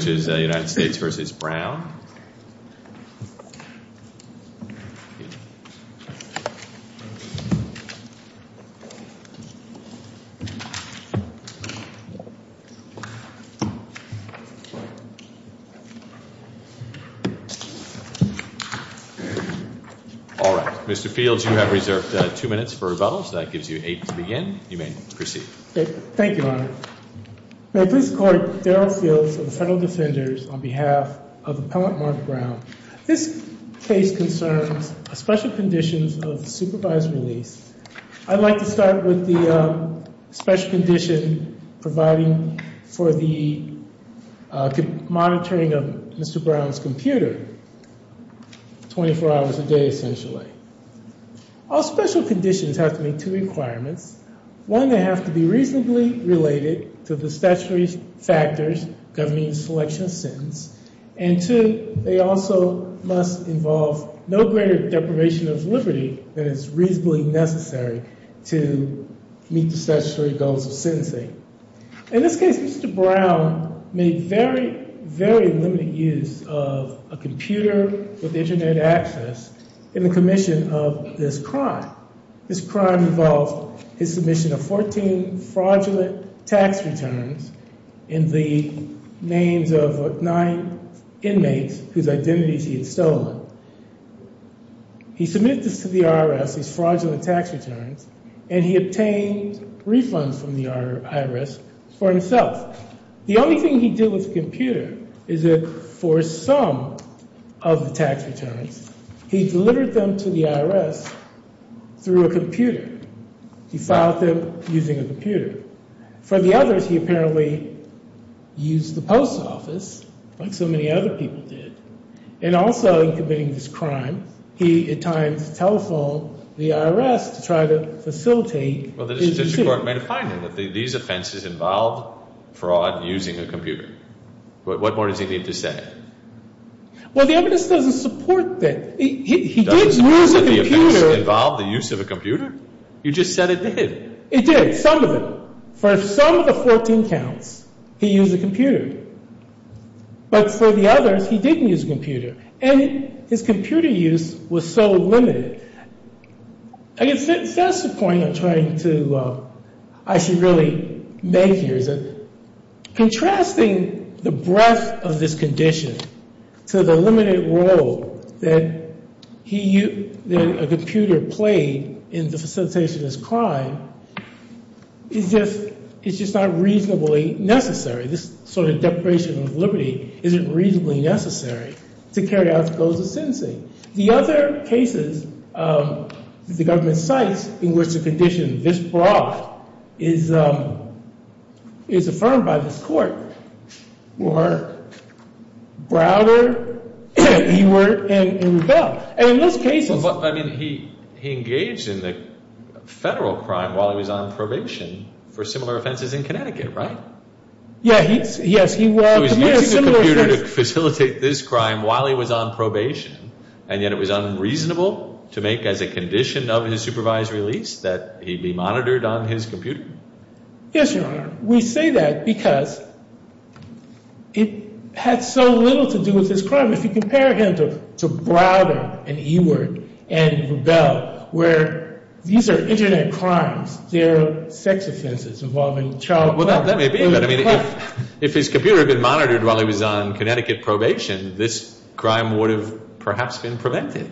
All right, Mr. Fields, you have reserved two minutes for rebuttal, so that gives you eight to begin. You may proceed. Thank you, Your Honor. May I please call Darrell Fields of the Federal Defenders on behalf of Appellant Mark Brown. This case concerns special conditions of supervised release. I'd like to start with the special condition providing for the monitoring of Mr. Brown's computer 24 hours a day, essentially. All special conditions have to meet two requirements. One, they have to be reasonably related to the statutory factors governing the selection of sentence. And two, they also must involve no greater deprivation of liberty than is reasonably necessary to meet the statutory goals of sentencing. In this case, Mr. Brown made very, very limited use of a computer with internet access in the commission of this crime. This crime involved his submission of 14 fraudulent tax returns in the names of nine inmates whose identities he had stolen. He submitted this to the IRS, these fraudulent tax returns, and he obtained refunds from the IRS for himself. The only thing he did with the computer is that for some of the tax returns, he delivered them to the IRS through a computer. He filed them using a computer. For the others, he apparently used the post office, like so many other people did. And also in committing this crime, he at times telephoned the IRS to try to facilitate his decision. Well, the district court made a finding that these offenses involved fraud using a computer. What more does he need to say? Well, the evidence doesn't support that. He did use a computer. Doesn't the offense involve the use of a computer? You just said it did. It did, some of it. For some of the 14 counts, he used a computer. But for the others, he didn't use a computer. And his computer use was so limited. I guess that's the point I'm trying to actually really make here. Contrasting the breadth of this condition to the limited role that a computer played in the facilitation of this crime is just not reasonably necessary. This sort of deprivation of liberty isn't reasonably necessary to carry out the goals of sentencing. The other cases the government cites in which the condition this broad is affirmed by this court were Browder and Rebell. And in those cases ‑‑ But, I mean, he engaged in the federal crime while he was on probation for similar offenses in Connecticut, right? Yeah, yes. He was using a computer to facilitate this crime while he was on probation. And yet it was unreasonable to make as a condition of his supervised release that he be monitored on his computer? Yes, Your Honor. We say that because it had so little to do with this crime. If you compare him to Browder and Eward and Rebell where these are Internet crimes, they're sex offenses involving childbirth. Well, that may be. But, I mean, if his computer had been monitored while he was on Connecticut probation, this crime would have perhaps been prevented.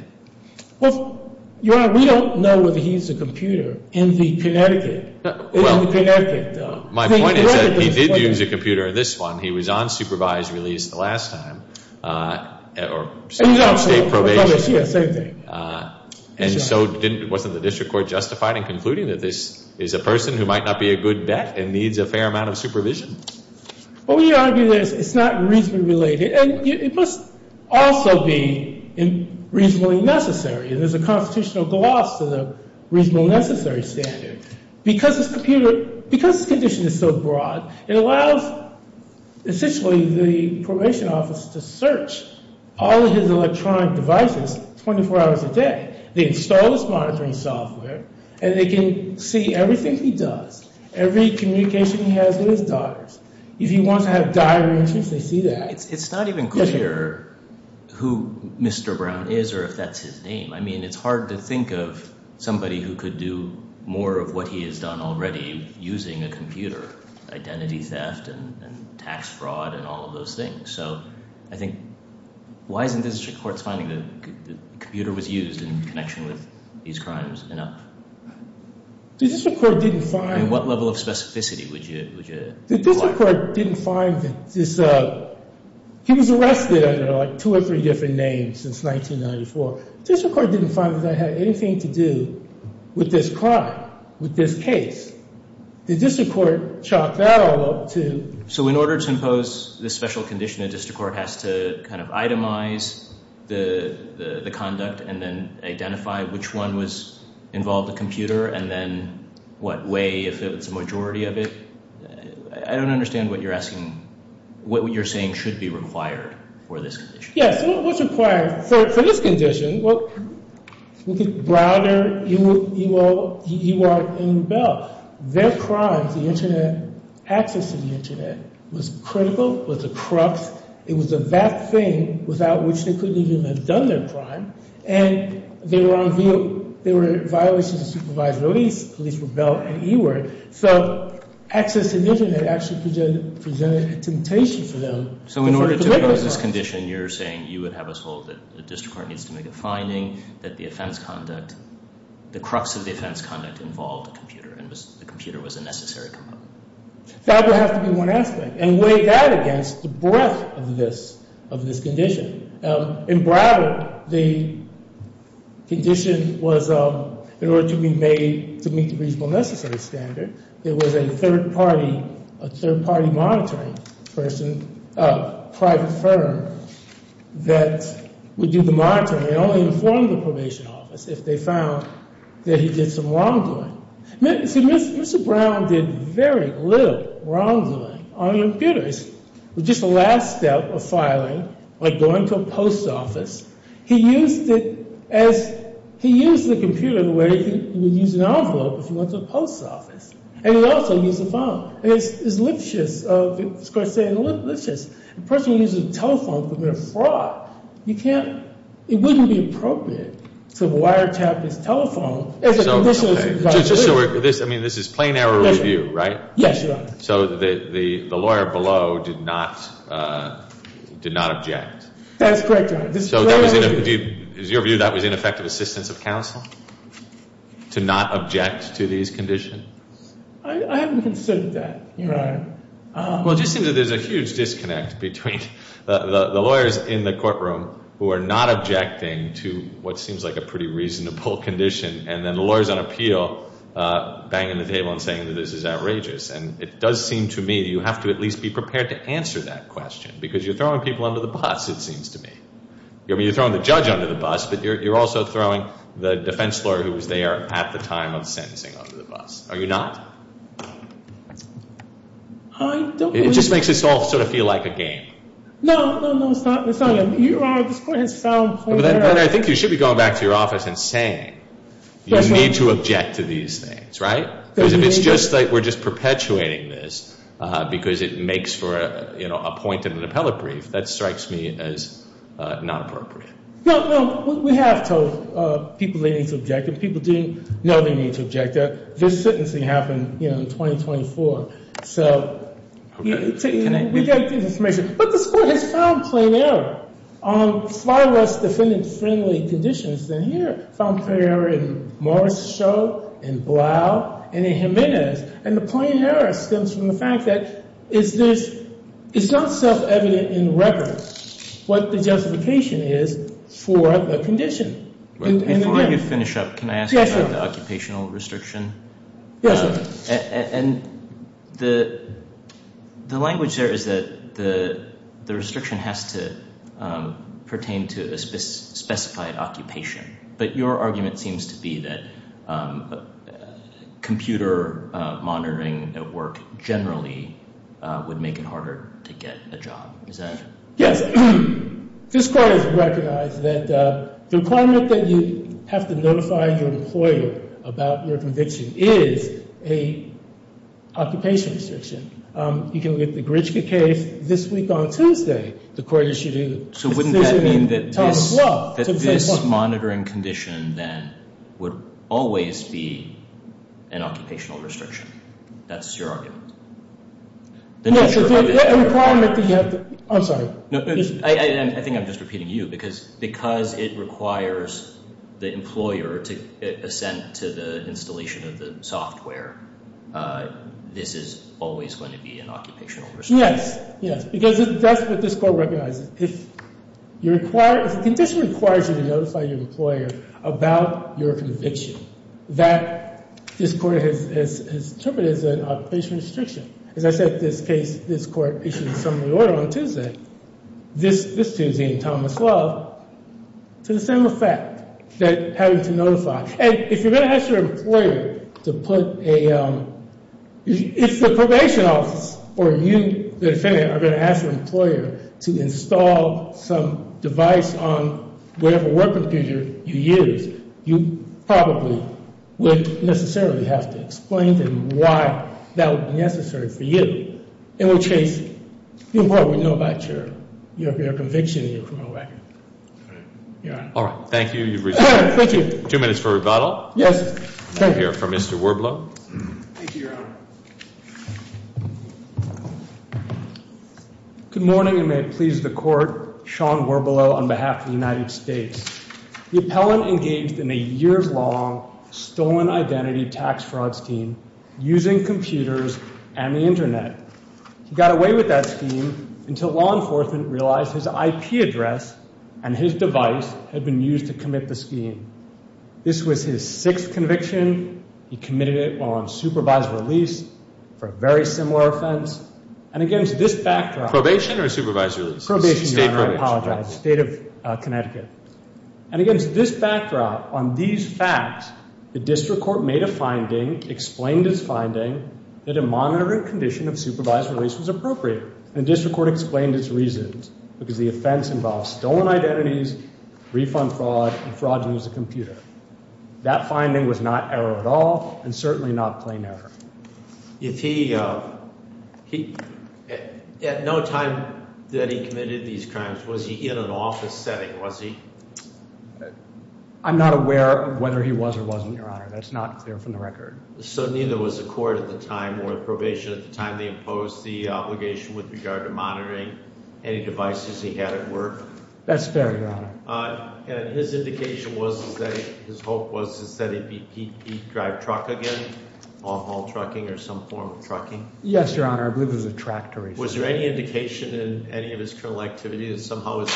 Well, Your Honor, we don't know whether he used a computer in the Connecticut. Well, my point is that he did use a computer in this one. He was on supervised release the last time or state probation. Yeah, same thing. And so wasn't the district court justified in concluding that this is a person who might not be a good bet and needs a fair amount of supervision? Well, we argue that it's not reasonably related. And it must also be reasonably necessary. And there's a constitutional gloss to the reasonably necessary standard. Because his condition is so broad, it allows essentially the probation office to search all of his electronic devices 24 hours a day. They install this monitoring software, and they can see everything he does, every communication he has with his daughters. If he wants to have diary entries, they see that. It's not even clear who Mr. Brown is or if that's his name. I mean, it's hard to think of somebody who could do more of what he has done already using a computer. Identity theft and tax fraud and all of those things. So I think why isn't the district court's finding that the computer was used in connection with these crimes enough? The district court didn't find— I mean, what level of specificity would you— The district court didn't find that this—he was arrested under, like, two or three different names since 1994. The district court didn't find that that had anything to do with this crime, with this case. The district court chalked that all up to— So in order to impose this special condition, the district court has to kind of itemize the conduct and then identify which one was involved, the computer, and then what way, if it was a majority of it. I don't understand what you're asking—what you're saying should be required for this condition. Yes, what's required for this condition? Well, look at Browder, Ewart, and Ewert. Their crimes, the Internet, access to the Internet, was critical, was a crux. It was a vat thing without which they couldn't even have done their crime. And they were on view—there were violations of supervised release, police rebel, and Ewert. So access to the Internet actually presented a temptation for them. So in order to impose this condition, you're saying you would have us hold that the district court needs to make a finding, that the offense conduct—the crux of the offense conduct involved a computer, and the computer was a necessary component. That would have to be one aspect, and weigh that against the breadth of this condition. In Browder, the condition was, in order to be made to meet the reasonable necessary standard, there was a third-party monitoring person, a private firm that would do the monitoring. They only informed the probation office if they found that he did some wrongdoing. See, Mr. Brown did very little wrongdoing on computers. It was just the last step of filing, like going to a post office. He used it as—he used the computer the way he would use an envelope if he went to a post office. And he also used the phone. And it's licentious of the district court to say it's licentious. A person who uses a telephone could commit a fraud. You can't—it wouldn't be appropriate to wiretap his telephone as a condition of— Okay. So this—I mean, this is plain error review, right? Yes, Your Honor. So the lawyer below did not—did not object. That's correct, Your Honor. So that was—in your view, that was ineffective assistance of counsel to not object to these conditions? I haven't considered that, Your Honor. Well, it just seems that there's a huge disconnect between the lawyers in the courtroom who are not objecting to what seems like a pretty reasonable condition and then the lawyers on appeal banging the table and saying that this is outrageous. And it does seem to me you have to at least be prepared to answer that question because you're throwing people under the bus, it seems to me. I mean, you're throwing the judge under the bus, but you're also throwing the defense lawyer who was there at the time of sentencing under the bus. Are you not? I don't think— It just makes this all sort of feel like a game. No, no, no, it's not. It's not. Your Honor, this court has found plain error— I think you should be going back to your office and saying you need to object to these things, right? Because if it's just that we're just perpetuating this because it makes for a point in an appellate brief, that strikes me as not appropriate. No, no. We have told people they need to object. If people didn't know they need to object, this sentencing happened in 2024. So we get the information. But this court has found plain error on far less defendant-friendly conditions than here. We have found plain error in Morris Sho, in Blau, and in Jimenez. And the plain error stems from the fact that it's not self-evident in the record what the justification is for the condition. Before you finish up, can I ask about the occupational restriction? Yes, Your Honor. And the language there is that the restriction has to pertain to a specified occupation. But your argument seems to be that computer monitoring at work generally would make it harder to get a job. Is that— This court has recognized that the requirement that you have to notify your employer about your conviction is an occupation restriction. You can look at the Gritchka case. This week on Tuesday, the court issued a decision— So wouldn't that mean that this monitoring condition then would always be an occupational restriction? That's your argument? The requirement that you have to—I'm sorry. I think I'm just repeating you. Because it requires the employer to assent to the installation of the software, this is always going to be an occupational restriction. Yes, yes. Because that's what this court recognizes. If the condition requires you to notify your employer about your conviction, that, this court has interpreted as an occupational restriction. As I said, this case, this court issued a summary order on Tuesday, this Tuesday in Thomas Love, to the same effect, that having to notify. And if you're going to ask your employer to put a—if the probation office or you, the defendant, are going to ask your employer to install some device on whatever work computer you use, you probably would necessarily have to explain to them why that would be necessary for you. In which case, the employer would know about your conviction in your criminal record. All right. All right. Thank you. Thank you. Two minutes for rebuttal. Yes. I hear from Mr. Werblow. Thank you, Your Honor. Good morning, and may it please the court. Sean Werblow on behalf of the United States. The appellant engaged in a years-long stolen identity tax fraud scheme using computers and the Internet. He got away with that scheme until law enforcement realized his IP address and his device had been used to commit the scheme. This was his sixth conviction. He committed it while on supervised release for a very similar offense. And against this backdrop— Probation or supervised release? Probation, Your Honor. State probation. I apologize. State of Connecticut. And against this backdrop, on these facts, the district court made a finding, explained its finding, that a monitoring condition of supervised release was appropriate. And the district court explained its reasons, because the offense involved stolen identities, refund fraud, and fraudulent use of computer. That finding was not error at all and certainly not plain error. If he—at no time that he committed these crimes, was he in an office setting? Was he? I'm not aware of whether he was or wasn't, Your Honor. That's not clear from the record. So neither was the court at the time or the probation at the time. They imposed the obligation with regard to monitoring any devices he had at work? That's fair, Your Honor. And his indication was that—his hope was that he'd drive truck again, off-haul trucking or some form of trucking? Yes, Your Honor. I believe it was a tractor. Was there any indication in any of his criminal activity that somehow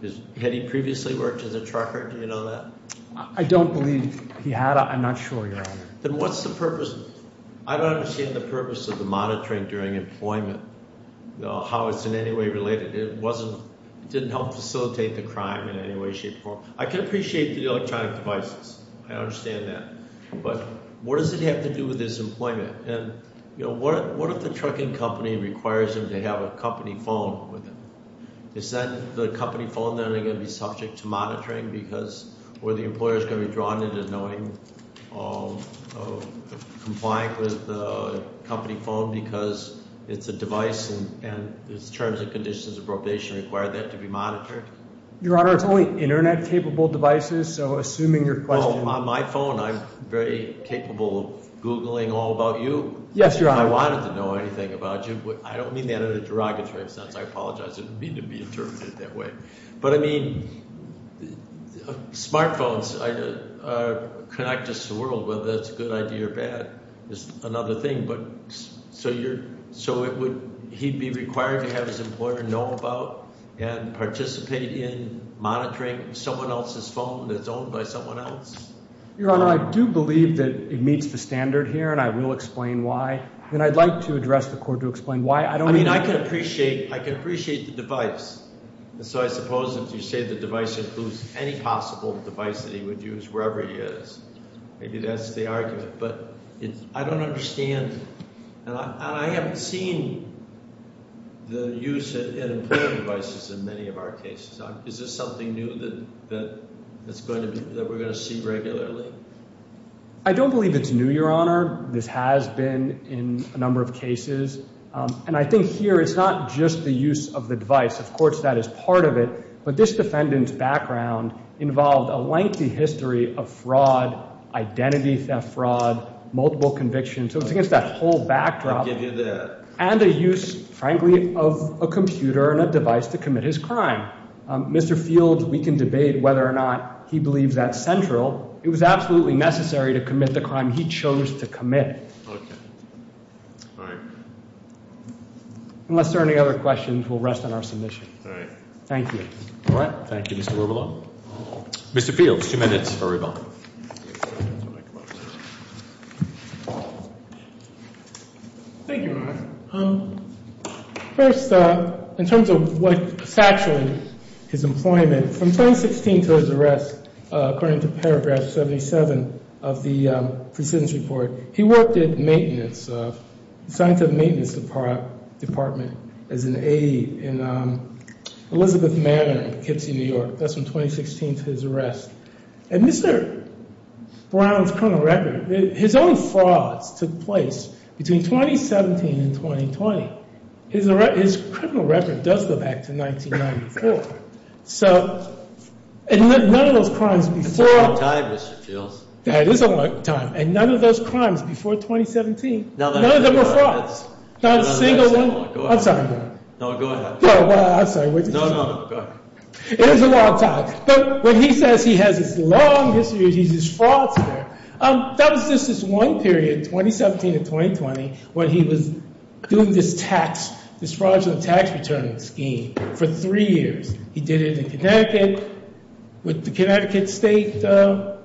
his—had he previously worked as a trucker? Do you know that? I don't believe he had. I'm not sure, Your Honor. Then what's the purpose—I don't understand the purpose of the monitoring during employment, how it's in any way related. It wasn't—it didn't help facilitate the crime in any way, shape, or form. I can appreciate the electronic devices. I understand that. But what does it have to do with his employment? And, you know, what if the trucking company requires him to have a company phone with him? Is that—the company phone then going to be subject to monitoring because—or the employer is going to be drawn into knowing— complying with the company phone because it's a device and its terms and conditions of appropriation require that to be monitored? Your Honor, it's only Internet-capable devices, so assuming your question— Well, on my phone, I'm very capable of Googling all about you. Yes, Your Honor. If I wanted to know anything about you—I don't mean that in a derogatory sense. I apologize. I didn't mean to be interpreted that way. But, I mean, smartphones connect us to the world, whether that's a good idea or bad is another thing. But so you're—so it would—he'd be required to have his employer know about and participate in monitoring someone else's phone that's owned by someone else? Your Honor, I do believe that it meets the standard here, and I will explain why. And I'd like to address the court to explain why. I don't mean— I mean, I can appreciate—I can appreciate the device. And so I suppose if you say the device includes any possible device that he would use, wherever he is, maybe that's the argument. But I don't understand—and I haven't seen the use of employer devices in many of our cases. Is this something new that it's going to be—that we're going to see regularly? I don't believe it's new, Your Honor. This has been in a number of cases. And I think here it's not just the use of the device. Of course, that is part of it. But this defendant's background involved a lengthy history of fraud, identity theft fraud, multiple convictions. So it's against that whole backdrop. I'll give you that. And a use, frankly, of a computer and a device to commit his crime. Mr. Field, we can debate whether or not he believes that's central. It was absolutely necessary to commit the crime he chose to commit. Okay. All right. Unless there are any other questions, we'll rest on our submission. Thank you. All right. Thank you, Mr. Oberlo. Mr. Field, two minutes for rebuttal. Thank you, Your Honor. First, in terms of what saturated his employment, from 2016 to his arrest, according to paragraph 77 of the precedence report, he worked at the maintenance, the scientific maintenance department as an aide in Elizabeth Manor in Poughkeepsie, New York. That's from 2016 to his arrest. And Mr. Brown's criminal record, his own frauds took place between 2017 and 2020. His criminal record does go back to 1994. So, and none of those crimes before— That's a long time, Mr. Field. That is a long time. And none of those crimes before 2017, none of them were frauds. Not a single one. I'm sorry. No, go ahead. I'm sorry. No, no, go ahead. It is a long time. But when he says he has this long history, he's just fraudster, that was just this one period, 2017 to 2020, when he was doing this fraudulent tax return scheme for three years. He did it in Connecticut with the Connecticut state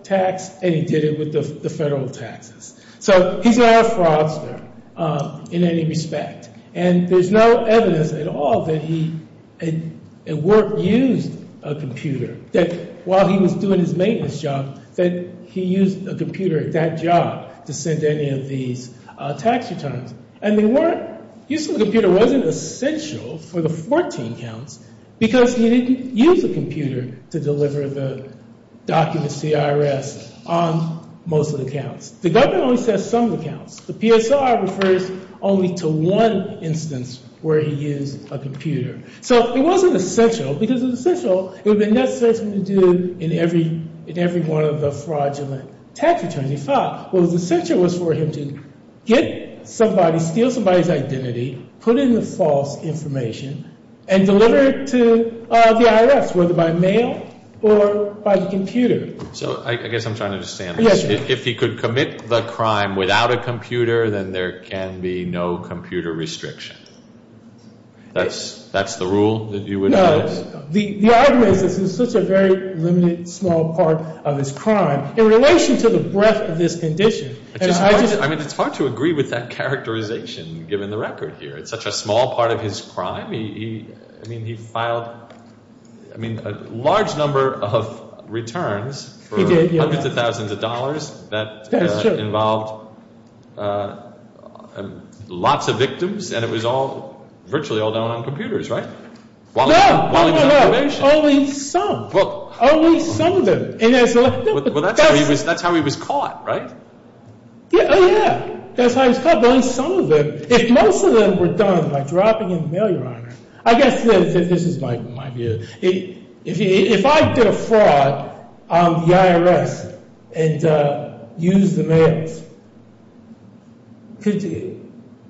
tax, and he did it with the federal taxes. So he's not a fraudster in any respect. And there's no evidence at all that he at work used a computer, that while he was doing his maintenance job, that he used a computer at that job to send any of these tax returns. And they weren't—using a computer wasn't essential for the 14 counts, because he didn't use a computer to deliver the documents to the IRS on most of the counts. The government only says some of the counts. The PSR refers only to one instance where he used a computer. So it wasn't essential, because it was essential, it would have been necessary for him to do in every one of the fraudulent tax returns. What was essential was for him to get somebody, steal somebody's identity, put in the false information, and deliver it to the IRS, whether by mail or by the computer. So I guess I'm trying to understand this. If he could commit the crime without a computer, then there can be no computer restriction. That's the rule that you would— No, the argument is this is such a very limited, small part of his crime. In relation to the breadth of this condition— I mean, it's hard to agree with that characterization, given the record here. It's such a small part of his crime. I mean, he filed, I mean, a large number of returns for hundreds of thousands of dollars. That's true. That involved lots of victims, and it was all—virtually all done on computers, right? No, no, no. While he was on probation. Only some. Well— Only some of them. Well, that's how he was caught, right? Oh, yeah. That's how he was caught. Only some of them. If most of them were done by dropping in the mail, Your Honor, I guess this is my view. If I did a fraud on the IRS and used the mails,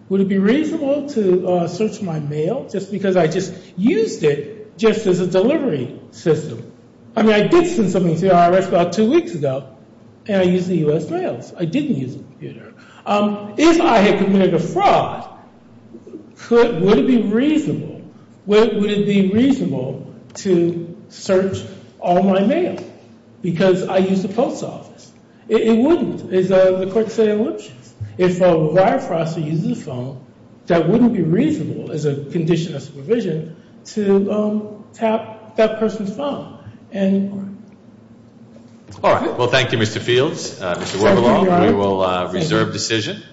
would it be reasonable to search my mail just because I just used it just as a delivery system? I mean, I did send something to the IRS about two weeks ago, and I used the U.S. mails. I didn't use a computer. If I had committed a fraud, would it be reasonable—would it be reasonable to search all my mail because I used the post office? It wouldn't. If a wire processor uses a phone, that wouldn't be reasonable as a condition of supervision to tap that person's phone anymore. All right. Well, thank you, Mr. Fields. Mr. Weberloff, we will reserve decision.